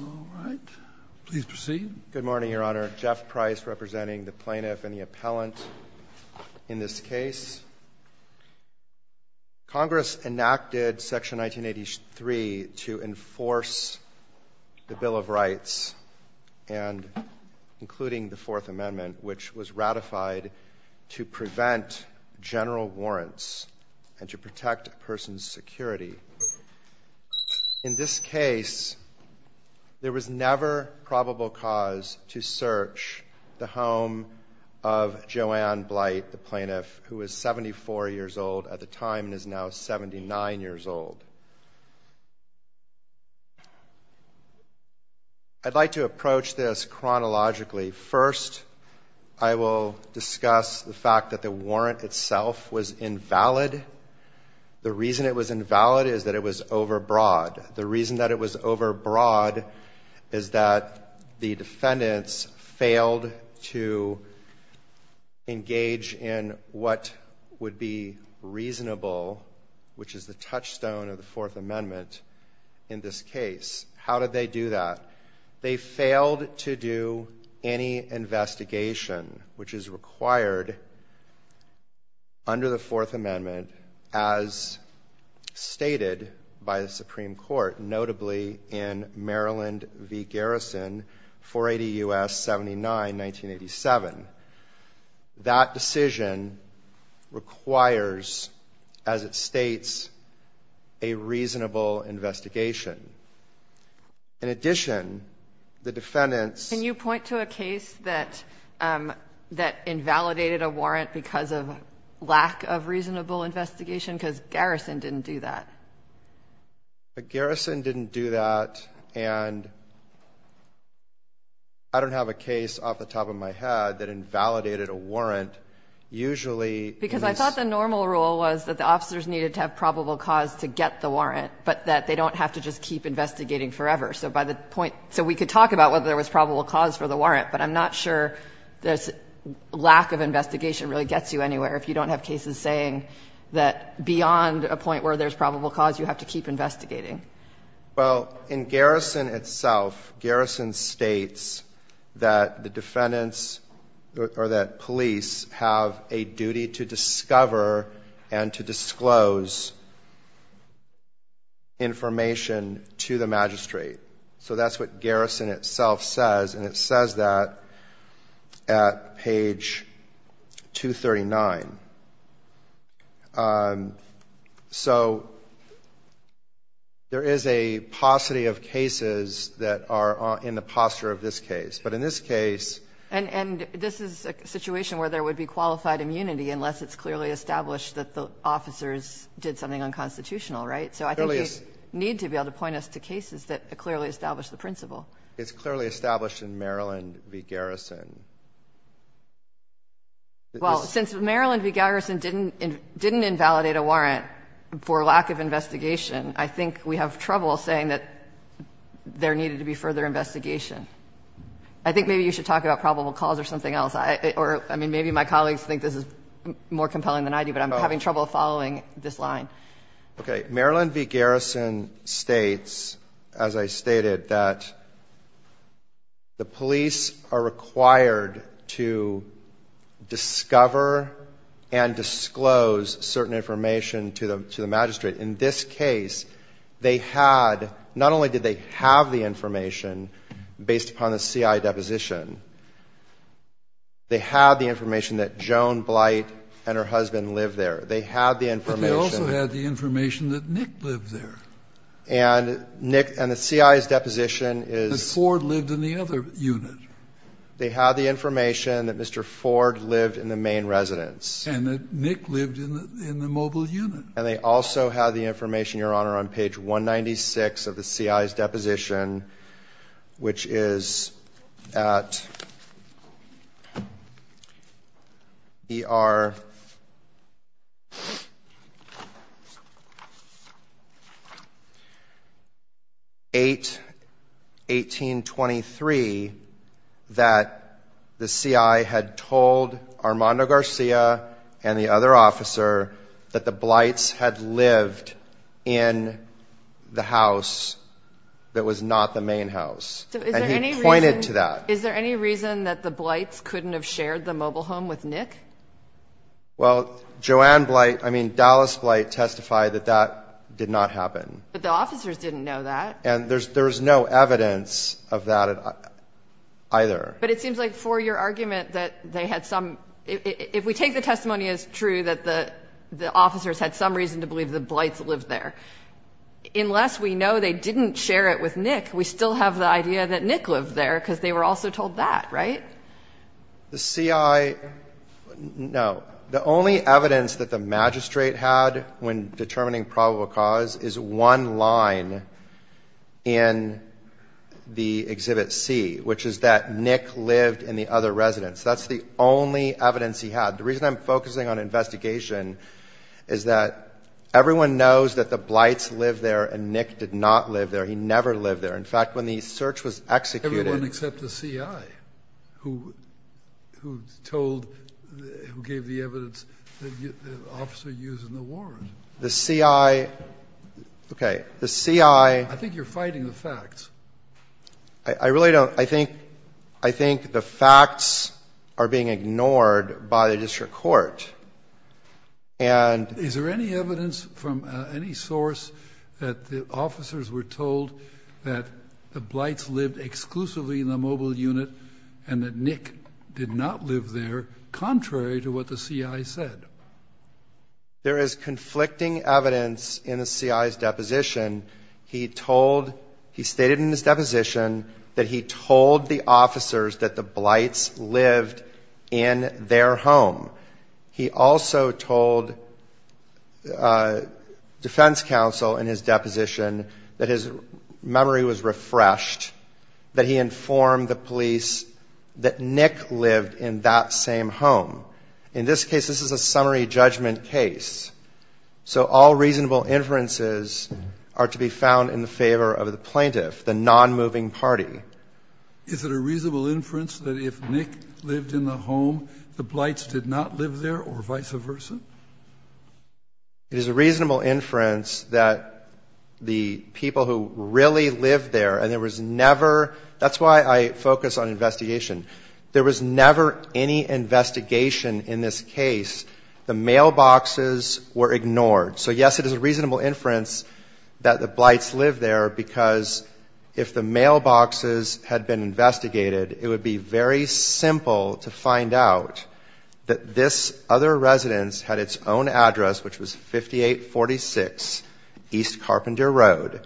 All right. Please proceed. Good morning, Your Honor. Jeff Price representing the plaintiff and the appellant in this case. Congress enacted Section 1983 to enforce the Bill of Rights, including the Fourth Amendment, which was ratified to prevent general warrants and to protect a person's security. In this case, there was never probable cause to search the home of Joanne Blight, the plaintiff, who was 74 years old at the time and is now 79 years old. I'd like to approach this chronologically. First, I will discuss the fact that the warrant itself was invalid. The reason it was invalid is that it was overbroad. The reason that it was overbroad is that the defendants failed to engage in what would be reasonable, which is the touchstone of the Fourth Amendment, in this case. How did they do that? They failed to do any investigation, which is required under the Fourth Amendment, as stated by the Supreme Court, notably in Maryland v. Garrison, 480 U.S., 79, 1987. That decision requires, as it states, a reasonable investigation. In addition, the defendants ---- Kagan. Can you point to a case that invalidated a warrant because of lack of reasonable investigation? Because Garrison didn't do that. Garrison didn't do that. And I don't have a case off the top of my head that invalidated a warrant. Usually ---- I thought the normal rule was that the officers needed to have probable cause to get the warrant, but that they don't have to just keep investigating forever. So by the point ---- so we could talk about whether there was probable cause for the warrant, but I'm not sure this lack of investigation really gets you anywhere if you don't have cases saying that beyond a point where there's probable cause, you have to keep investigating. Well, in Garrison itself, Garrison states that the defendants or that police have a duty to discover and to disclose information to the magistrate. So that's what Garrison itself says, and it says that at page 239. So there is a paucity of cases that are in the posture of this case. But in this case ---- Unless it's clearly established that the officers did something unconstitutional. Right? So I think we need to be able to point us to cases that clearly establish the principle. It's clearly established in Maryland v. Garrison. Well, since Maryland v. Garrison didn't invalidate a warrant for lack of investigation, I think we have trouble saying that there needed to be further investigation. I think maybe you should talk about probable cause or something else. I mean, maybe my colleagues think this is more compelling than I do, but I'm having trouble following this line. Okay. Maryland v. Garrison states, as I stated, that the police are required to discover and disclose certain information to the magistrate. In this case, they had ---- not only did they have the information based upon the CI deposition, they had the information that Joan Blight and her husband lived there. They had the information ---- But they also had the information that Nick lived there. And Nick ---- and the CI's deposition is ---- That Ford lived in the other unit. They had the information that Mr. Ford lived in the main residence. And that Nick lived in the mobile unit. And they also had the information, Your Honor, on page 196 of the CI's deposition, which is at ER 8, 1823, that the CI had told Armando Garcia and the other officer that the Blights had lived in the house that was not the main house. And he pointed to that. Is there any reason that the Blights couldn't have shared the mobile home with Nick? Well, Joan Blight ---- I mean, Dallas Blight testified that that did not happen. But the officers didn't know that. And there's no evidence of that either. But it seems like for your argument that they had some ---- Unless we know they didn't share it with Nick, we still have the idea that Nick lived there because they were also told that, right? The CI ---- No. The only evidence that the magistrate had when determining probable cause is one line in the Exhibit C, which is that Nick lived in the other residence. That's the only evidence he had. The reason I'm focusing on investigation is that everyone knows that the Blights lived there and Nick did not live there. He never lived there. In fact, when the search was executed ---- Everyone except the CI, who gave the evidence that the officer used in the war. The CI ---- Okay. The CI ---- I think you're fighting the facts. I really don't. I think the facts are being ignored by the district court. And ---- Is there any evidence from any source that the officers were told that the Blights lived exclusively in the mobile unit and that Nick did not live there, contrary to what the CI said? There is conflicting evidence in the CI's deposition. He told ---- He stated in his deposition that he told the officers that the Blights lived in their home. He also told defense counsel in his deposition that his memory was refreshed, that he informed the police that Nick lived in that same home. In this case, this is a summary judgment case. So all reasonable inferences are to be found in favor of the plaintiff, the nonmoving party. Is it a reasonable inference that if Nick lived in the home, the Blights did not live there or vice versa? It is a reasonable inference that the people who really lived there, and there was never ---- That's why I focus on investigation. There was never any investigation in this case. The mailboxes were ignored. So, yes, it is a reasonable inference that the Blights lived there because if the mailboxes had been investigated, it would be very simple to find out that this other residence had its own address, which was 5846 East Carpenter Road,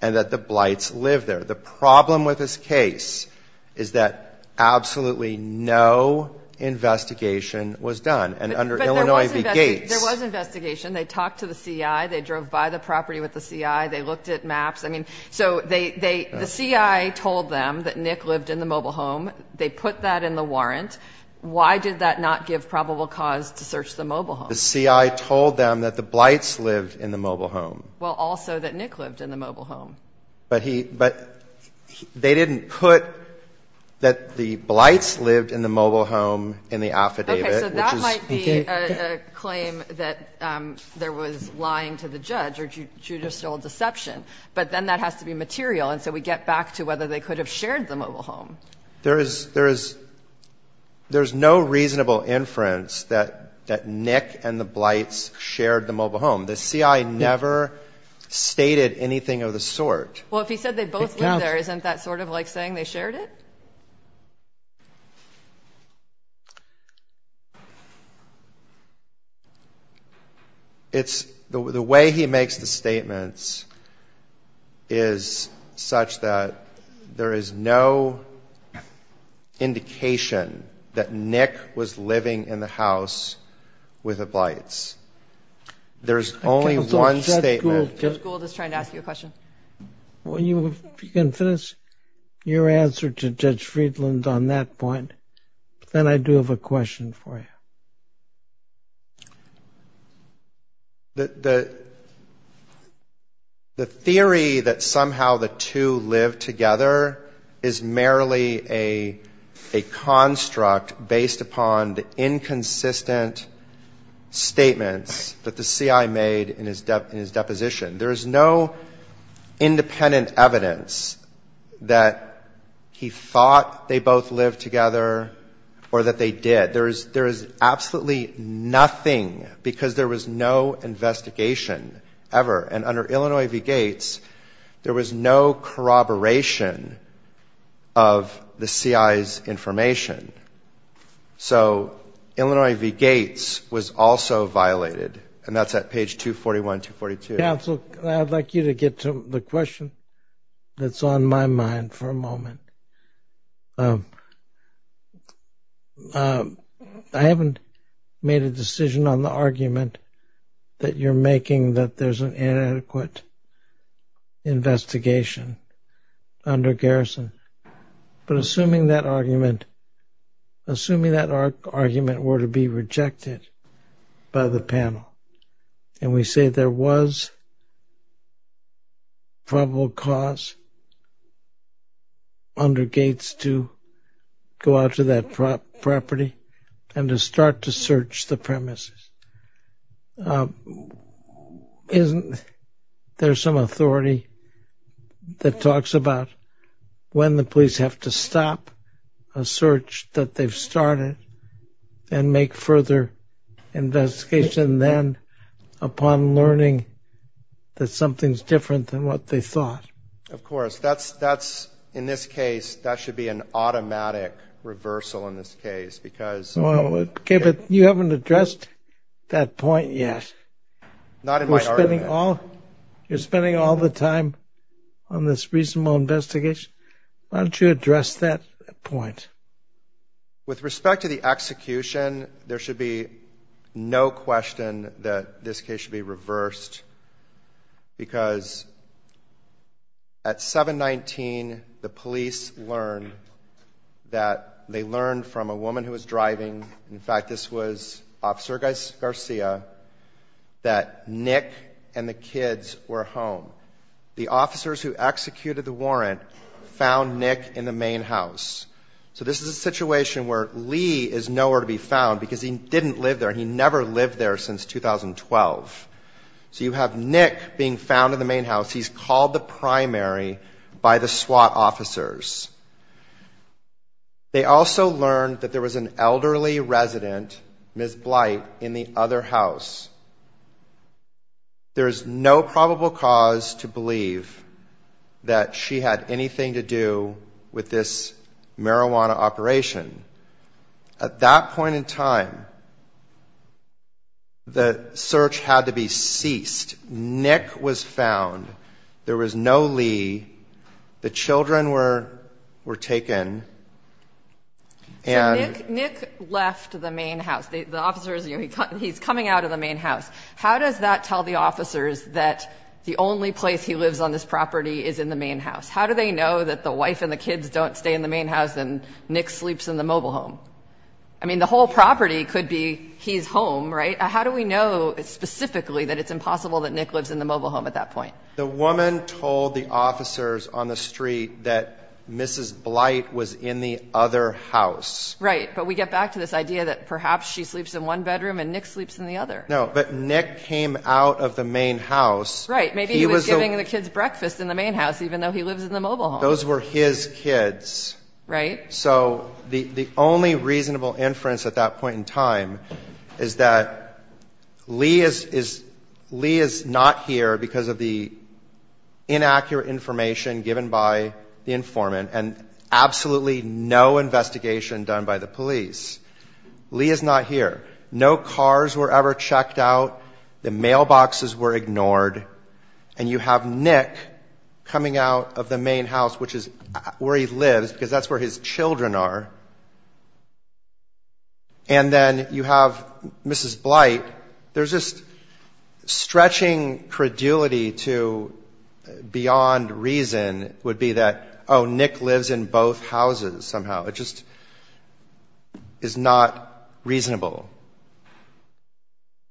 and that the Blights lived there. The problem with this case is that absolutely no investigation was done. And under Illinois v. Gates ---- But there was investigation. There was investigation. They talked to the CI. They drove by the property with the CI. They looked at maps. I mean, so they ---- the CI told them that Nick lived in the mobile home. They put that in the warrant. Why did that not give probable cause to search the mobile home? The CI told them that the Blights lived in the mobile home. Well, also that Nick lived in the mobile home. But he ---- but they didn't put that the Blights lived in the mobile home in the affidavit, which is ---- Okay. So that might be a claim that there was lying to the judge or judicial deception. But then that has to be material. And so we get back to whether they could have shared the mobile home. There is no reasonable inference that Nick and the Blights shared the mobile home. The CI never stated anything of the sort. Well, if he said they both lived there, isn't that sort of like saying they shared it? It's ---- the way he makes the statements is such that there is no indication that Nick was living in the house with the Blights. There's only one statement. I can't believe that Gould is trying to ask you a question. Well, you can finish your answer to Judge Friedland on that point. Then I do have a question for you. The theory that somehow the two lived together is merely a construct based upon the inconsistent statements that the CI made in his deposition. There is no independent evidence that he thought they both lived together or that they did. There is absolutely nothing because there was no investigation ever. And under Illinois v. Gates, there was no corroboration of the CI's information. So Illinois v. Gates was also violated. And that's at page 241, 242. Counsel, I'd like you to get to the question that's on my mind for a moment. I haven't made a decision on the argument that you're making that there's an inadequate investigation under garrison. But assuming that argument were to be rejected by the panel, and we say there was probable cause under Gates to go out to that property and to start to search the premises, isn't there some authority that talks about when the police have to stop a search that they've started and make further investigation then upon learning that something's different than what they thought? Of course. That's, in this case, that should be an automatic reversal in this case. Okay, but you haven't addressed that point yet. Not in my argument. You're spending all the time on this reasonable investigation. Why don't you address that point? With respect to the execution, there should be no question that this case should be reversed because at 7-19, the police learned that they learned from a woman who was driving. In fact, this was Officer Garcia, that Nick and the kids were home. The officers who executed the warrant found Nick in the main house. So this is a situation where Lee is nowhere to be found because he didn't live there. He never lived there since 2012. So you have Nick being found in the main house. He's called the primary by the SWAT officers. They also learned that there was an elderly resident, Ms. Blight, in the other house. There is no probable cause to believe that she had anything to do with this marijuana operation. At that point in time, the search had to be ceased. Nick was found. There was no Lee. The children were taken. So Nick left the main house. The officers knew he's coming out of the main house. How does that tell the officers that the only place he lives on this property is in the main house? How do they know that the wife and the kids don't stay in the main house and Nick sleeps in the mobile home? I mean, the whole property could be his home, right? How do we know specifically that it's impossible that Nick lives in the mobile home at that point? The woman told the officers on the street that Mrs. Blight was in the other house. Right. But we get back to this idea that perhaps she sleeps in one bedroom and Nick sleeps in the other. No, but Nick came out of the main house. Right. Maybe he was giving the kids breakfast in the main house even though he lives in the mobile home. Those were his kids. Right. So the only reasonable inference at that point in time is that Lee is not here because of the inaccurate information given by the informant and absolutely no investigation done by the police. Lee is not here. No cars were ever checked out. The mailboxes were ignored. And you have Nick coming out of the main house, which is where he lives, because that's where his children are. And then you have Mrs. Blight. There's just stretching credulity to beyond reason would be that, oh, Nick lives in both houses somehow. It just is not reasonable.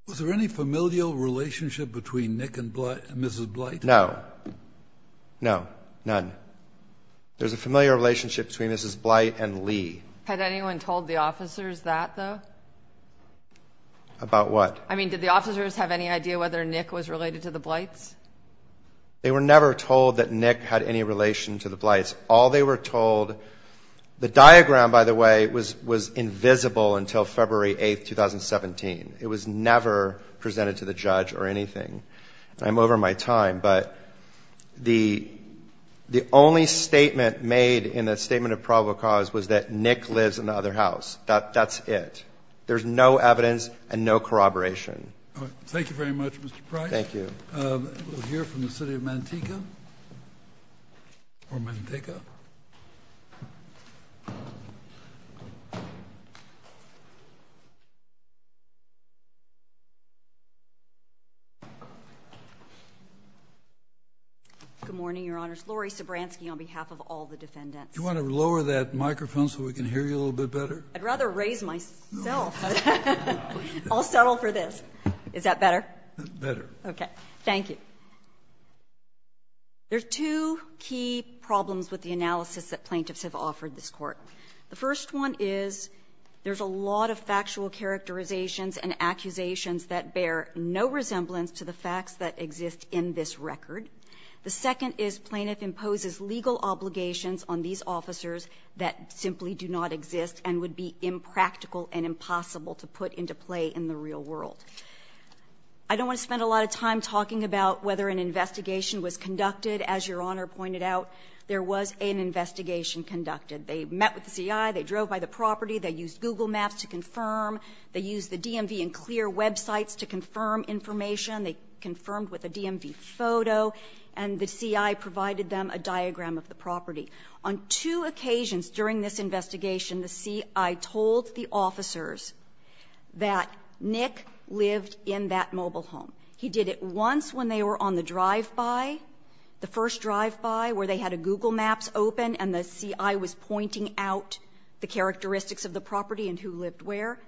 Was there any familial relationship between Nick and Mrs. Blight? No. No, none. There's a familial relationship between Mrs. Blight and Lee. Had anyone told the officers that, though? About what? I mean, did the officers have any idea whether Nick was related to the Blights? They were never told that Nick had any relation to the Blights. All they were told, the diagram, by the way, was invisible until February 8, 2017. It was never presented to the judge or anything. I'm over my time, but the only statement made in the statement of probable cause was that Nick lives in the other house. That's it. There's no evidence and no corroboration. Thank you very much, Mr. Price. Thank you. We'll hear from the city of Manteca. Good morning, Your Honors. Laurie Sobranski on behalf of all the defendants. Do you want to lower that microphone so we can hear you a little bit better? I'd rather raise myself. I'll settle for this. Is that better? Better. Okay. Thank you. There are two key problems with the analysis that plaintiffs have offered this court. The first one is there's a lot of factual characterizations and accusations that bear no resemblance to the facts that exist in this record. The second is plaintiff imposes legal obligations on these officers that simply do not exist and would be impractical and impossible to put into play in the real world. I don't want to spend a lot of time talking about whether an investigation was conducted. As Your Honor pointed out, there was an investigation conducted. They met with the C.I. They drove by the property. They used Google maps to confirm. They used the DMV and clear websites to confirm information. They confirmed with a DMV photo. And the C.I. provided them a diagram of the property. On two occasions during this investigation, the C.I. told the officers that Nick lived in that mobile home. He did it once when they were on the drive-by, the first drive-by, where they had a Google maps open and the C.I. was pointing out the characteristics of the property and who lived where.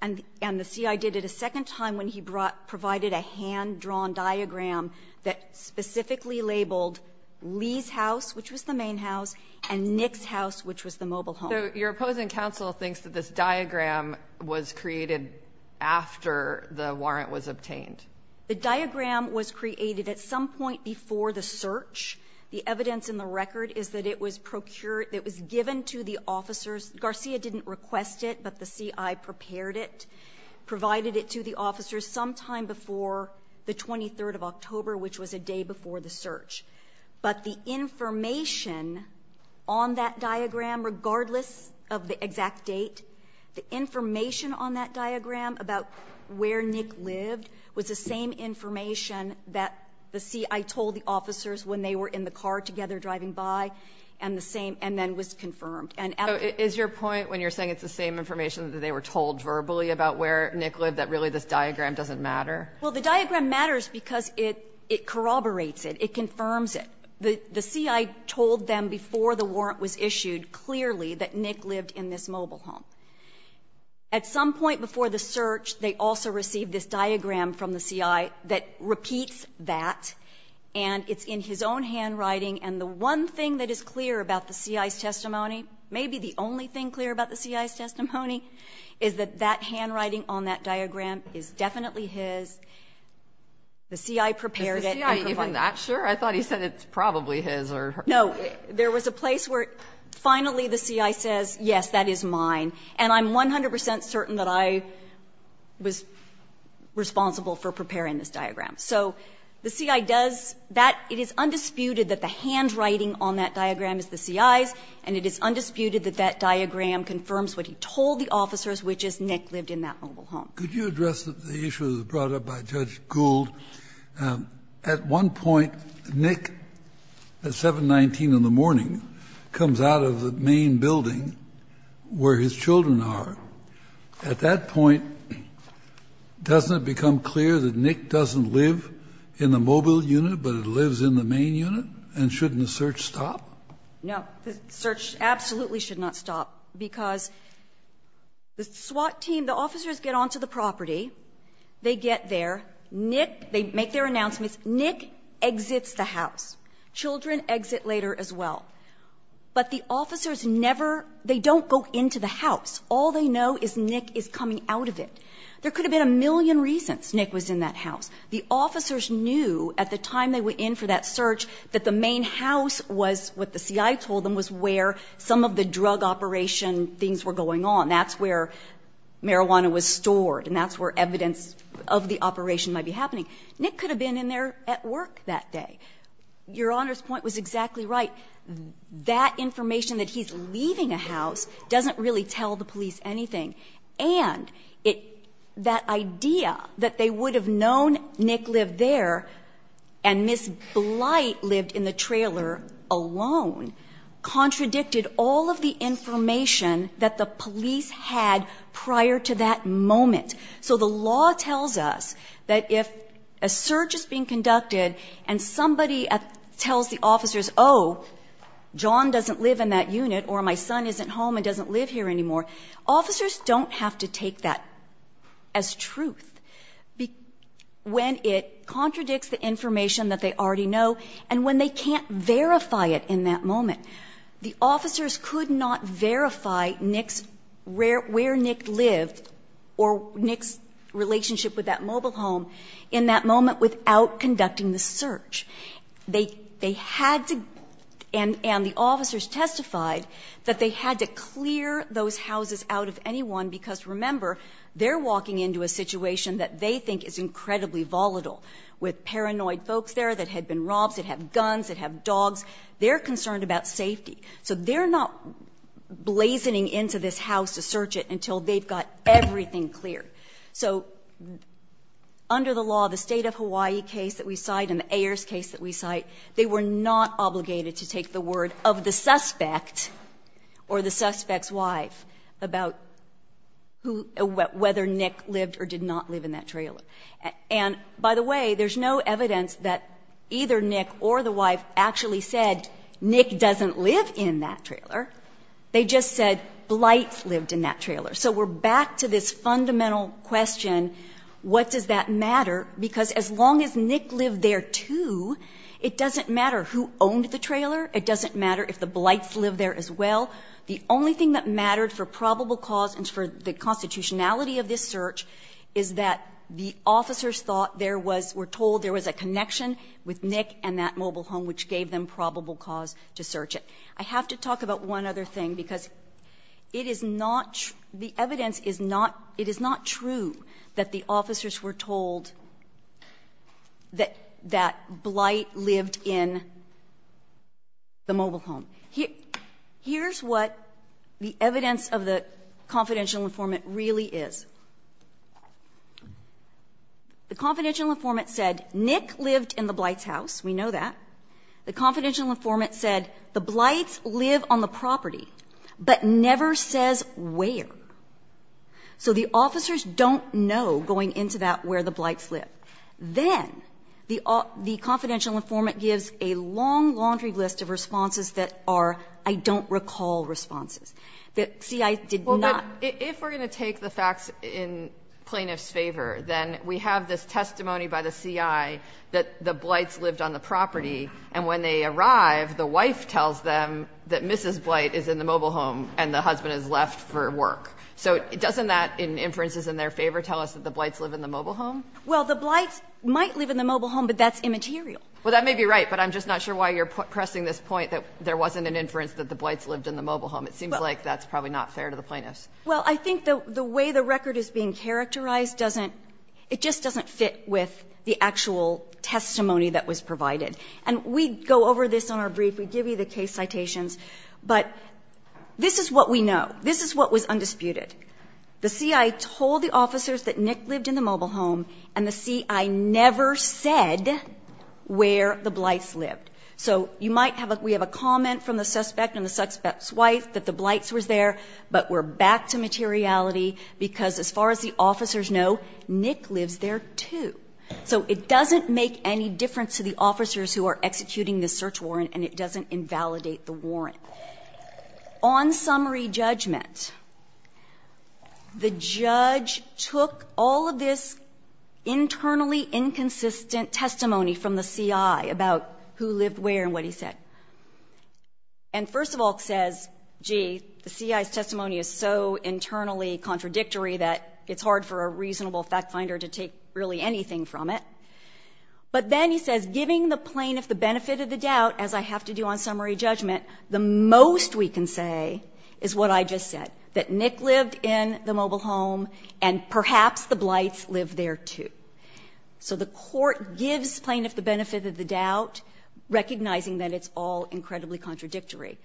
And the C.I. did it a second time when he provided a hand-drawn diagram that specifically labeled Lee's house, which was the main house, and Nick's house, which was the mobile home. So your opposing counsel thinks that this diagram was created after the warrant was obtained? The diagram was created at some point before the search. The evidence in the record is that it was given to the officers. Garcia didn't request it, but the C.I. prepared it, provided it to the officers sometime before the 23rd of October, which was a day before the search. But the information on that diagram, regardless of the exact date, the information on that diagram about where Nick lived was the same information that the C.I. told the officers when they were in the car together driving by, and the same, and then was confirmed. And at the point when you're saying it's the same information that they were told verbally about where Nick lived, that really this diagram doesn't matter? Well, the diagram matters because it corroborates it. It confirms it. The C.I. told them before the warrant was issued clearly that Nick lived in this mobile home. At some point before the search, they also received this diagram from the C.I. that repeats that, and it's in his own handwriting, and the one thing that is clear about the C.I.'s testimony, maybe the only thing clear about the C.I.'s testimony, is that that handwriting on that diagram is definitely his. The C.I. prepared it and provided it. Is the C.I. even that sure? I thought he said it's probably his or hers. No. There was a place where finally the C.I. says, yes, that is mine, and I'm 100 percent certain that I was responsible for preparing this diagram. So the C.I. does that. It is undisputed that the handwriting on that diagram is the C.I.'s, and it is undisputed that that diagram confirms what he told the officers, which is Nick lived in that mobile home. Kennedy, could you address the issue that was brought up by Judge Gould? At one point, Nick, at 719 in the morning, comes out of the main building where his children are. At that point, doesn't it become clear that Nick doesn't live in the mobile unit, but it lives in the main unit, and shouldn't the search stop? No. The search absolutely should not stop, because the SWAT team, the officers get onto the property. They get there. Nick, they make their announcements. Nick exits the house. Children exit later as well. But the officers never, they don't go into the house. All they know is Nick is coming out of it. There could have been a million reasons Nick was in that house. The officers knew at the time they were in for that search that the main house was, what the C.I. told them, was where some of the drug operation things were going on. That's where marijuana was stored and that's where evidence of the operation might be happening. Nick could have been in there at work that day. Your Honor's point was exactly right. That information that he's leaving a house doesn't really tell the police anything. And that idea that they would have known Nick lived there and Ms. Blight lived in the trailer alone contradicted all of the information that the police had prior to that moment. So the law tells us that if a search is being conducted and somebody tells the officers, oh, John doesn't live in that unit or my son isn't home and doesn't live here anymore, officers don't have to take that as truth when it contradicts the information that they already know and when they can't verify it in that moment. The officers could not verify where Nick lived or Nick's relationship with that mobile home in that moment without conducting the search. They had to, and the officers testified, that they had to clear those houses out of anyone because, remember, they're walking into a situation that they think is incredibly volatile with paranoid folks there that had been robbed, that had guns, that had dogs. They're concerned about safety. So they're not blazoning into this house to search it until they've got everything cleared. So under the law, the State of Hawaii case that we cite and the Ayers case that we cite, they were not obligated to take the word of the suspect or the suspect's wife about who or whether Nick lived or did not live in that trailer. And, by the way, there's no evidence that either Nick or the wife actually said Nick doesn't live in that trailer. They just said Blight lived in that trailer. So we're back to this fundamental question, what does that matter? Because as long as Nick lived there, too, it doesn't matter who owned the trailer. It doesn't matter if the Blights lived there as well. The only thing that mattered for probable cause and for the constitutionality of this search is that the officers thought there was, were told there was a connection with Nick and that mobile home, which gave them probable cause to search it. I have to talk about one other thing, because it is not, the evidence is not, it is not true that the officers were told that Blight lived in the mobile home. Here's what the evidence of the confidential informant really is. The confidential informant said Nick lived in the Blights' house, we know that. The confidential informant said the Blights live on the property, but never says where. So the officers don't know, going into that, where the Blights live. Then the confidential informant gives a long laundry list of responses that are I don't recall responses, that C.I. did not. But if we're going to take the facts in plaintiff's favor, then we have this testimony by the C.I. that the Blights lived on the property, and when they arrive, the wife tells them that Mrs. Blight is in the mobile home and the husband has left for work. So doesn't that, in inferences in their favor, tell us that the Blights live in the mobile home? Well, the Blights might live in the mobile home, but that's immaterial. Well, that may be right, but I'm just not sure why you're pressing this point that there wasn't an inference that the Blights lived in the mobile home. It seems like that's probably not fair to the plaintiffs. Well, I think the way the record is being characterized doesn't, it just doesn't fit with the actual testimony that was provided. And we go over this on our brief. We give you the case citations. But this is what we know. This is what was undisputed. The C.I. told the officers that Nick lived in the mobile home, and the C.I. never said where the Blights lived. So you might have a we have a comment from the suspect and the suspect's wife that the Blights was there, but we're back to materiality, because as far as the officers know, Nick lives there, too. So it doesn't make any difference to the officers who are executing this search warrant, and it doesn't invalidate the warrant. On summary judgment, the judge took all of this internally inconsistent testimony from the C.I. about who lived where and what he said. And first of all, says, gee, the C.I.'s testimony is so internally contradictory that it's hard for a reasonable fact finder to take really anything from it. But then he says, giving the plaintiff the benefit of the doubt, as I have to do on summary judgment, the most we can say is what I just said, that Nick lived in the mobile home, and perhaps the Blights lived there, too. So the Court gives plaintiff the benefit of the doubt, recognizing that it's all incredibly contradictory.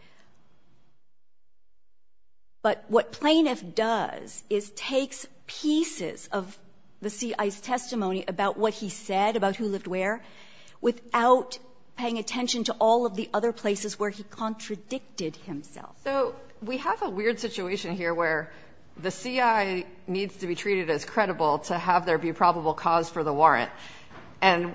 But what plaintiff does is takes pieces of the C.I.'s testimony about what he said, about who lived where, without paying attention to all of the other places where he contradicted himself. So we have a weird situation here where the C.I. needs to be treated as credible to have there be probable cause for the warrant, and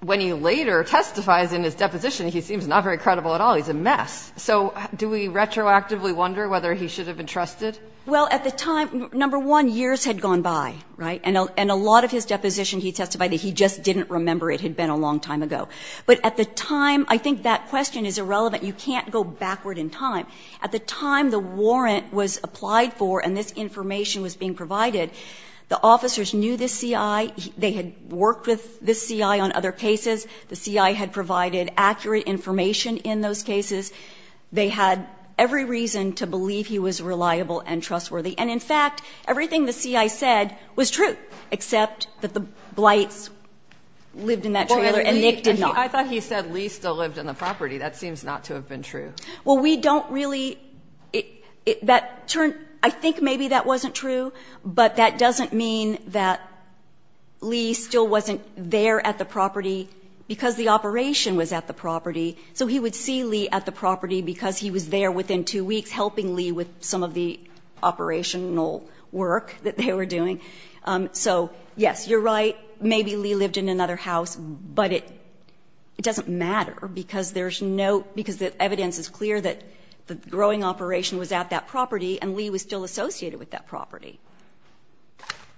when he later testifies in his deposition, he seems not very credible at all. He's a mess. So do we retroactively wonder whether he should have been trusted? Well, at the time, number one, years had gone by, right, and a lot of his deposition he testified that he just didn't remember it had been a long time ago. But at the time, I think that question is irrelevant. You can't go backward in time. At the time the warrant was applied for and this information was being provided, the officers knew this C.I. They had worked with this C.I. on other cases. The C.I. had provided accurate information in those cases. They had every reason to believe he was reliable and trustworthy. And in fact, everything the C.I. said was true, except that the Blytes lived in that trailer and Nick did not. I thought he said Lee still lived on the property. That seems not to have been true. Well, we don't really – that turned – I think maybe that wasn't true, but that Lee still wasn't there at the property because the operation was at the property. So he would see Lee at the property because he was there within two weeks helping Lee with some of the operational work that they were doing. So, yes, you're right, maybe Lee lived in another house, but it doesn't matter because there's no – because the evidence is clear that the growing operation was at that property and Lee was still associated with that property.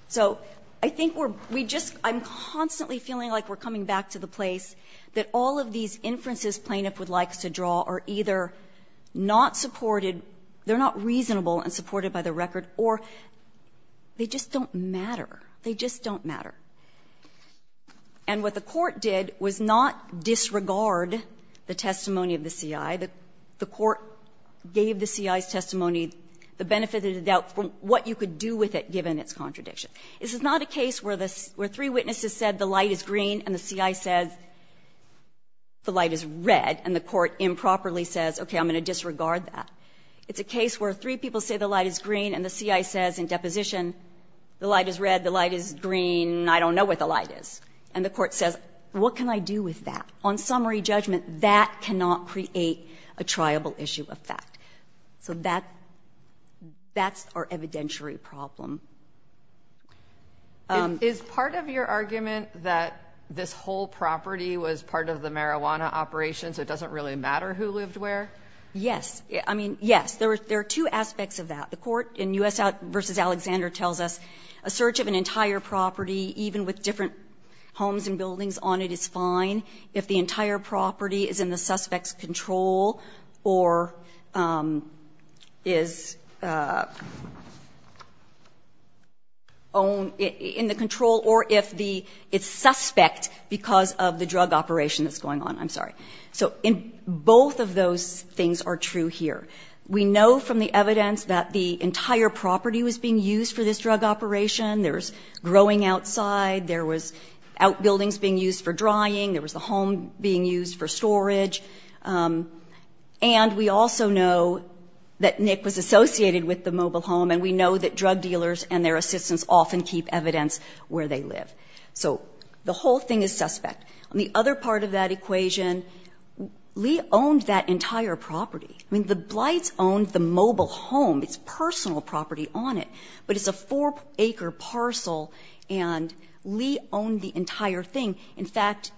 So I think we're – we just – I'm constantly feeling like we're coming back to the place that all of these inferences plaintiff would like us to draw are either not supported, they're not reasonable and supported by the record, or they just don't matter. They just don't matter. And what the Court did was not disregard the testimony of the C.I. The Court gave the C.I.'s testimony, the benefit of the doubt from what you could do with it given its contradiction. This is not a case where three witnesses said the light is green and the C.I. says the light is red and the Court improperly says, okay, I'm going to disregard that. It's a case where three people say the light is green and the C.I. says in deposition, the light is red, the light is green, I don't know what the light is. And the Court says, what can I do with that? On summary judgment, that cannot create a triable issue of fact. So that's our evidentiary problem. Is part of your argument that this whole property was part of the marijuana operation, so it doesn't really matter who lived where? Yes. I mean, yes. There are two aspects of that. The Court in U.S. v. Alexander tells us a search of an entire property, even with different homes and buildings on it, is fine if the entire property is in the suspect's control or is in the control or if the ‑‑ it's suspect because of the drug operation that's going on. I'm sorry. So both of those things are true here. We know from the evidence that the entire property was being used for this drug operation. There was outbuildings being used for drying, there was a home being used for storage. And we also know that Nick was associated with the mobile home, and we know that drug dealers and their assistants often keep evidence where they live. So the whole thing is suspect. On the other part of that equation, Lee owned that entire property. I mean, the Blights owned the mobile home, its personal property on it, but it's a four acre parcel. And Lee owned the entire thing. In fact,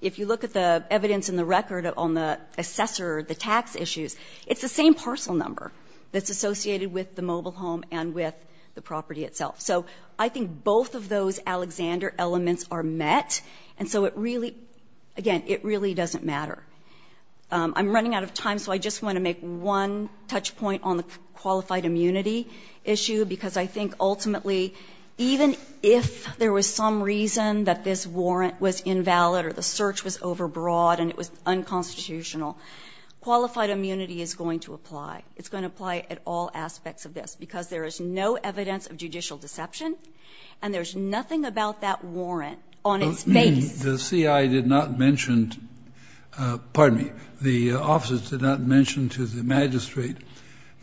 if you look at the evidence in the record on the assessor, the tax issues, it's the same parcel number that's associated with the mobile home and with the property itself. So I think both of those Alexander elements are met, and so it really ‑‑ again, it really doesn't matter. I'm running out of time, so I just want to make one touch point on the qualified immunity issue, because I think ultimately, even if there was some reason that this warrant was invalid or the search was overbroad and it was unconstitutional, qualified immunity is going to apply. It's going to apply at all aspects of this, because there is no evidence of judicial deception, and there's nothing about that warrant on its face. The CI did not mention ‑‑ pardon me, the officers did not mention to the magistrate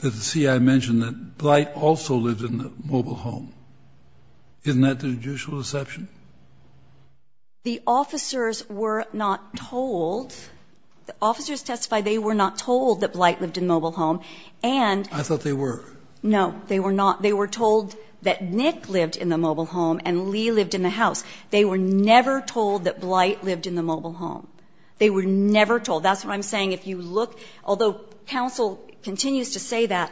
that the CI mentioned that Blight also lived in the mobile home. Isn't that the judicial deception? The officers were not told ‑‑ the officers testified they were not told that Blight lived in the mobile home, and ‑‑ I thought they were. No, they were not. They were told that Nick lived in the mobile home and Lee lived in the house. They were never told that Blight lived in the mobile home. They were never told. That's what I'm saying. If you look, although counsel continues to say that,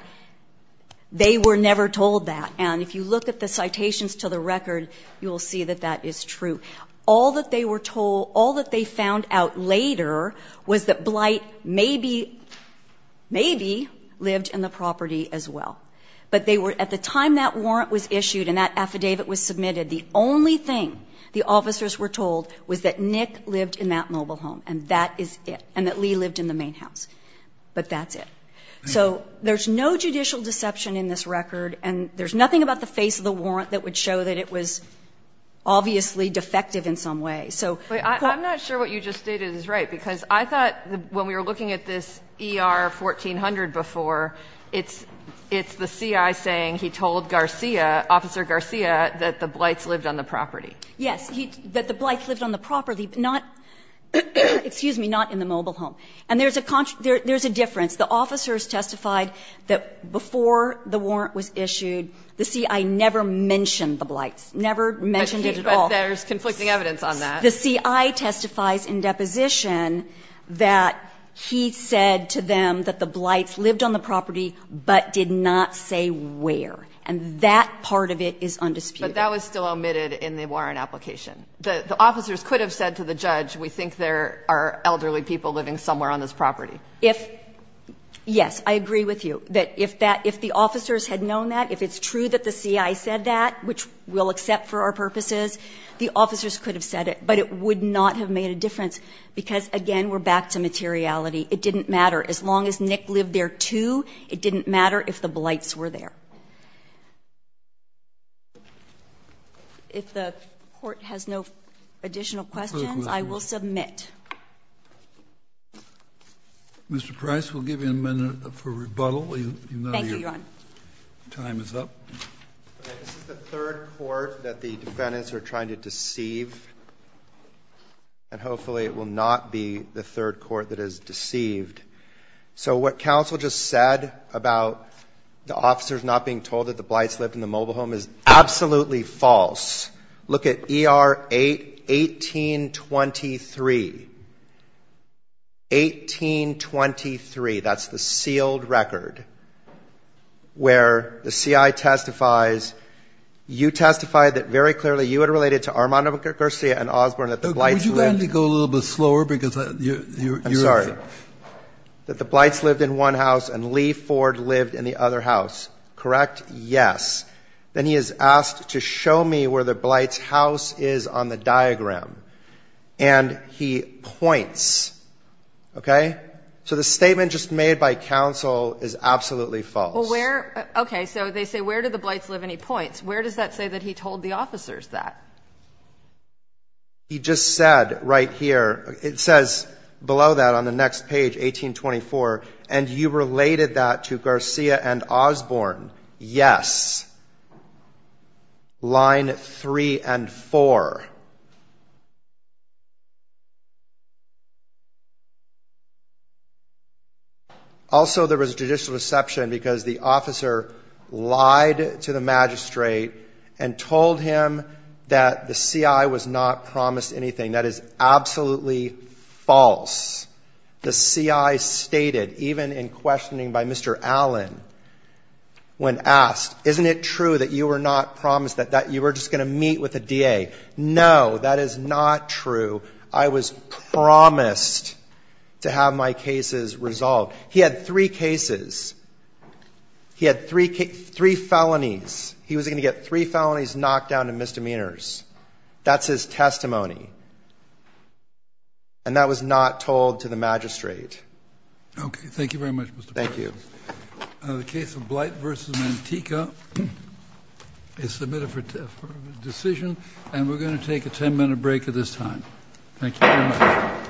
they were never told that. And if you look at the citations to the record, you will see that that is true. All that they were told, all that they found out later was that Blight maybe, maybe lived in the property as well. But they were ‑‑ at the time that warrant was issued and that affidavit was submitted, the only thing the officers were told was that Nick lived in that mobile home, and that is it, and that Lee lived in the main house. But that's it. So there's no judicial deception in this record, and there's nothing about the face of the warrant that would show that it was obviously defective in some way. So ‑‑ But I'm not sure what you just stated is right, because I thought when we were looking at this ER 1400 before, it's ‑‑ it's the CI saying he told Garcia, Officer Garcia, that the Blights lived on the property. Yes. That the Blights lived on the property, but not, excuse me, not in the mobile home. And there's a ‑‑ there's a difference. The officers testified that before the warrant was issued, the CI never mentioned the Blights, never mentioned it at all. But there's conflicting evidence on that. The CI testifies in deposition that he said to them that the Blights lived on the property, but did not say where, and that part of it is undisputed. But that was still omitted in the warrant application. The officers could have said to the judge, we think there are elderly people living somewhere on this property. If ‑‑ yes, I agree with you, that if that ‑‑ if the officers had known that, if it's true that the CI said that, which we'll accept for our purposes, the officers could have said it. But it would not have made a difference, because, again, we're back to materiality. It didn't matter. As long as Nick lived there, too, it didn't matter if the Blights were there. If the court has no additional questions, I will submit. Mr. Price, we'll give you a minute for rebuttal. Thank you, Your Honor. Your time is up. This is the third court that the defendants are trying to deceive, and hopefully it will not be the third court that is deceived. So what counsel just said about the officers not being told that the Blights lived in the mobile home is absolutely false. Look at ER 1823. 1823. That's the sealed record where the CI testifies. You testified that very clearly you had related to Armando Garcia and Osborne that the Blights lived. Can you go a little bit slower? I'm sorry. That the Blights lived in one house and Lee Ford lived in the other house. Correct? Yes. Then he is asked to show me where the Blights' house is on the diagram. And he points. Okay? So the statement just made by counsel is absolutely false. Okay. So they say where did the Blights live, and he points. Where does that say that he told the officers that? He just said right here. It says below that on the next page, 1824, and you related that to Garcia and Osborne. Yes. Line three and four. Also, there was judicial deception because the officer lied to the magistrate and told him that the CI was not promised anything. That is absolutely false. The CI stated, even in questioning by Mr. Allen, when asked, isn't it true that you were not promised that you were just going to meet with the DA? No, that is not true. I was promised to have my cases resolved. He had three cases. He had three felonies. He was going to get three felonies, knocked down, and misdemeanors. That's his testimony. And that was not told to the magistrate. Okay. Thank you very much, Mr. Perkins. Thank you. The case of Blight v. Mantico is submitted for decision. And we're going to take a 10-minute break at this time. Thank you very much.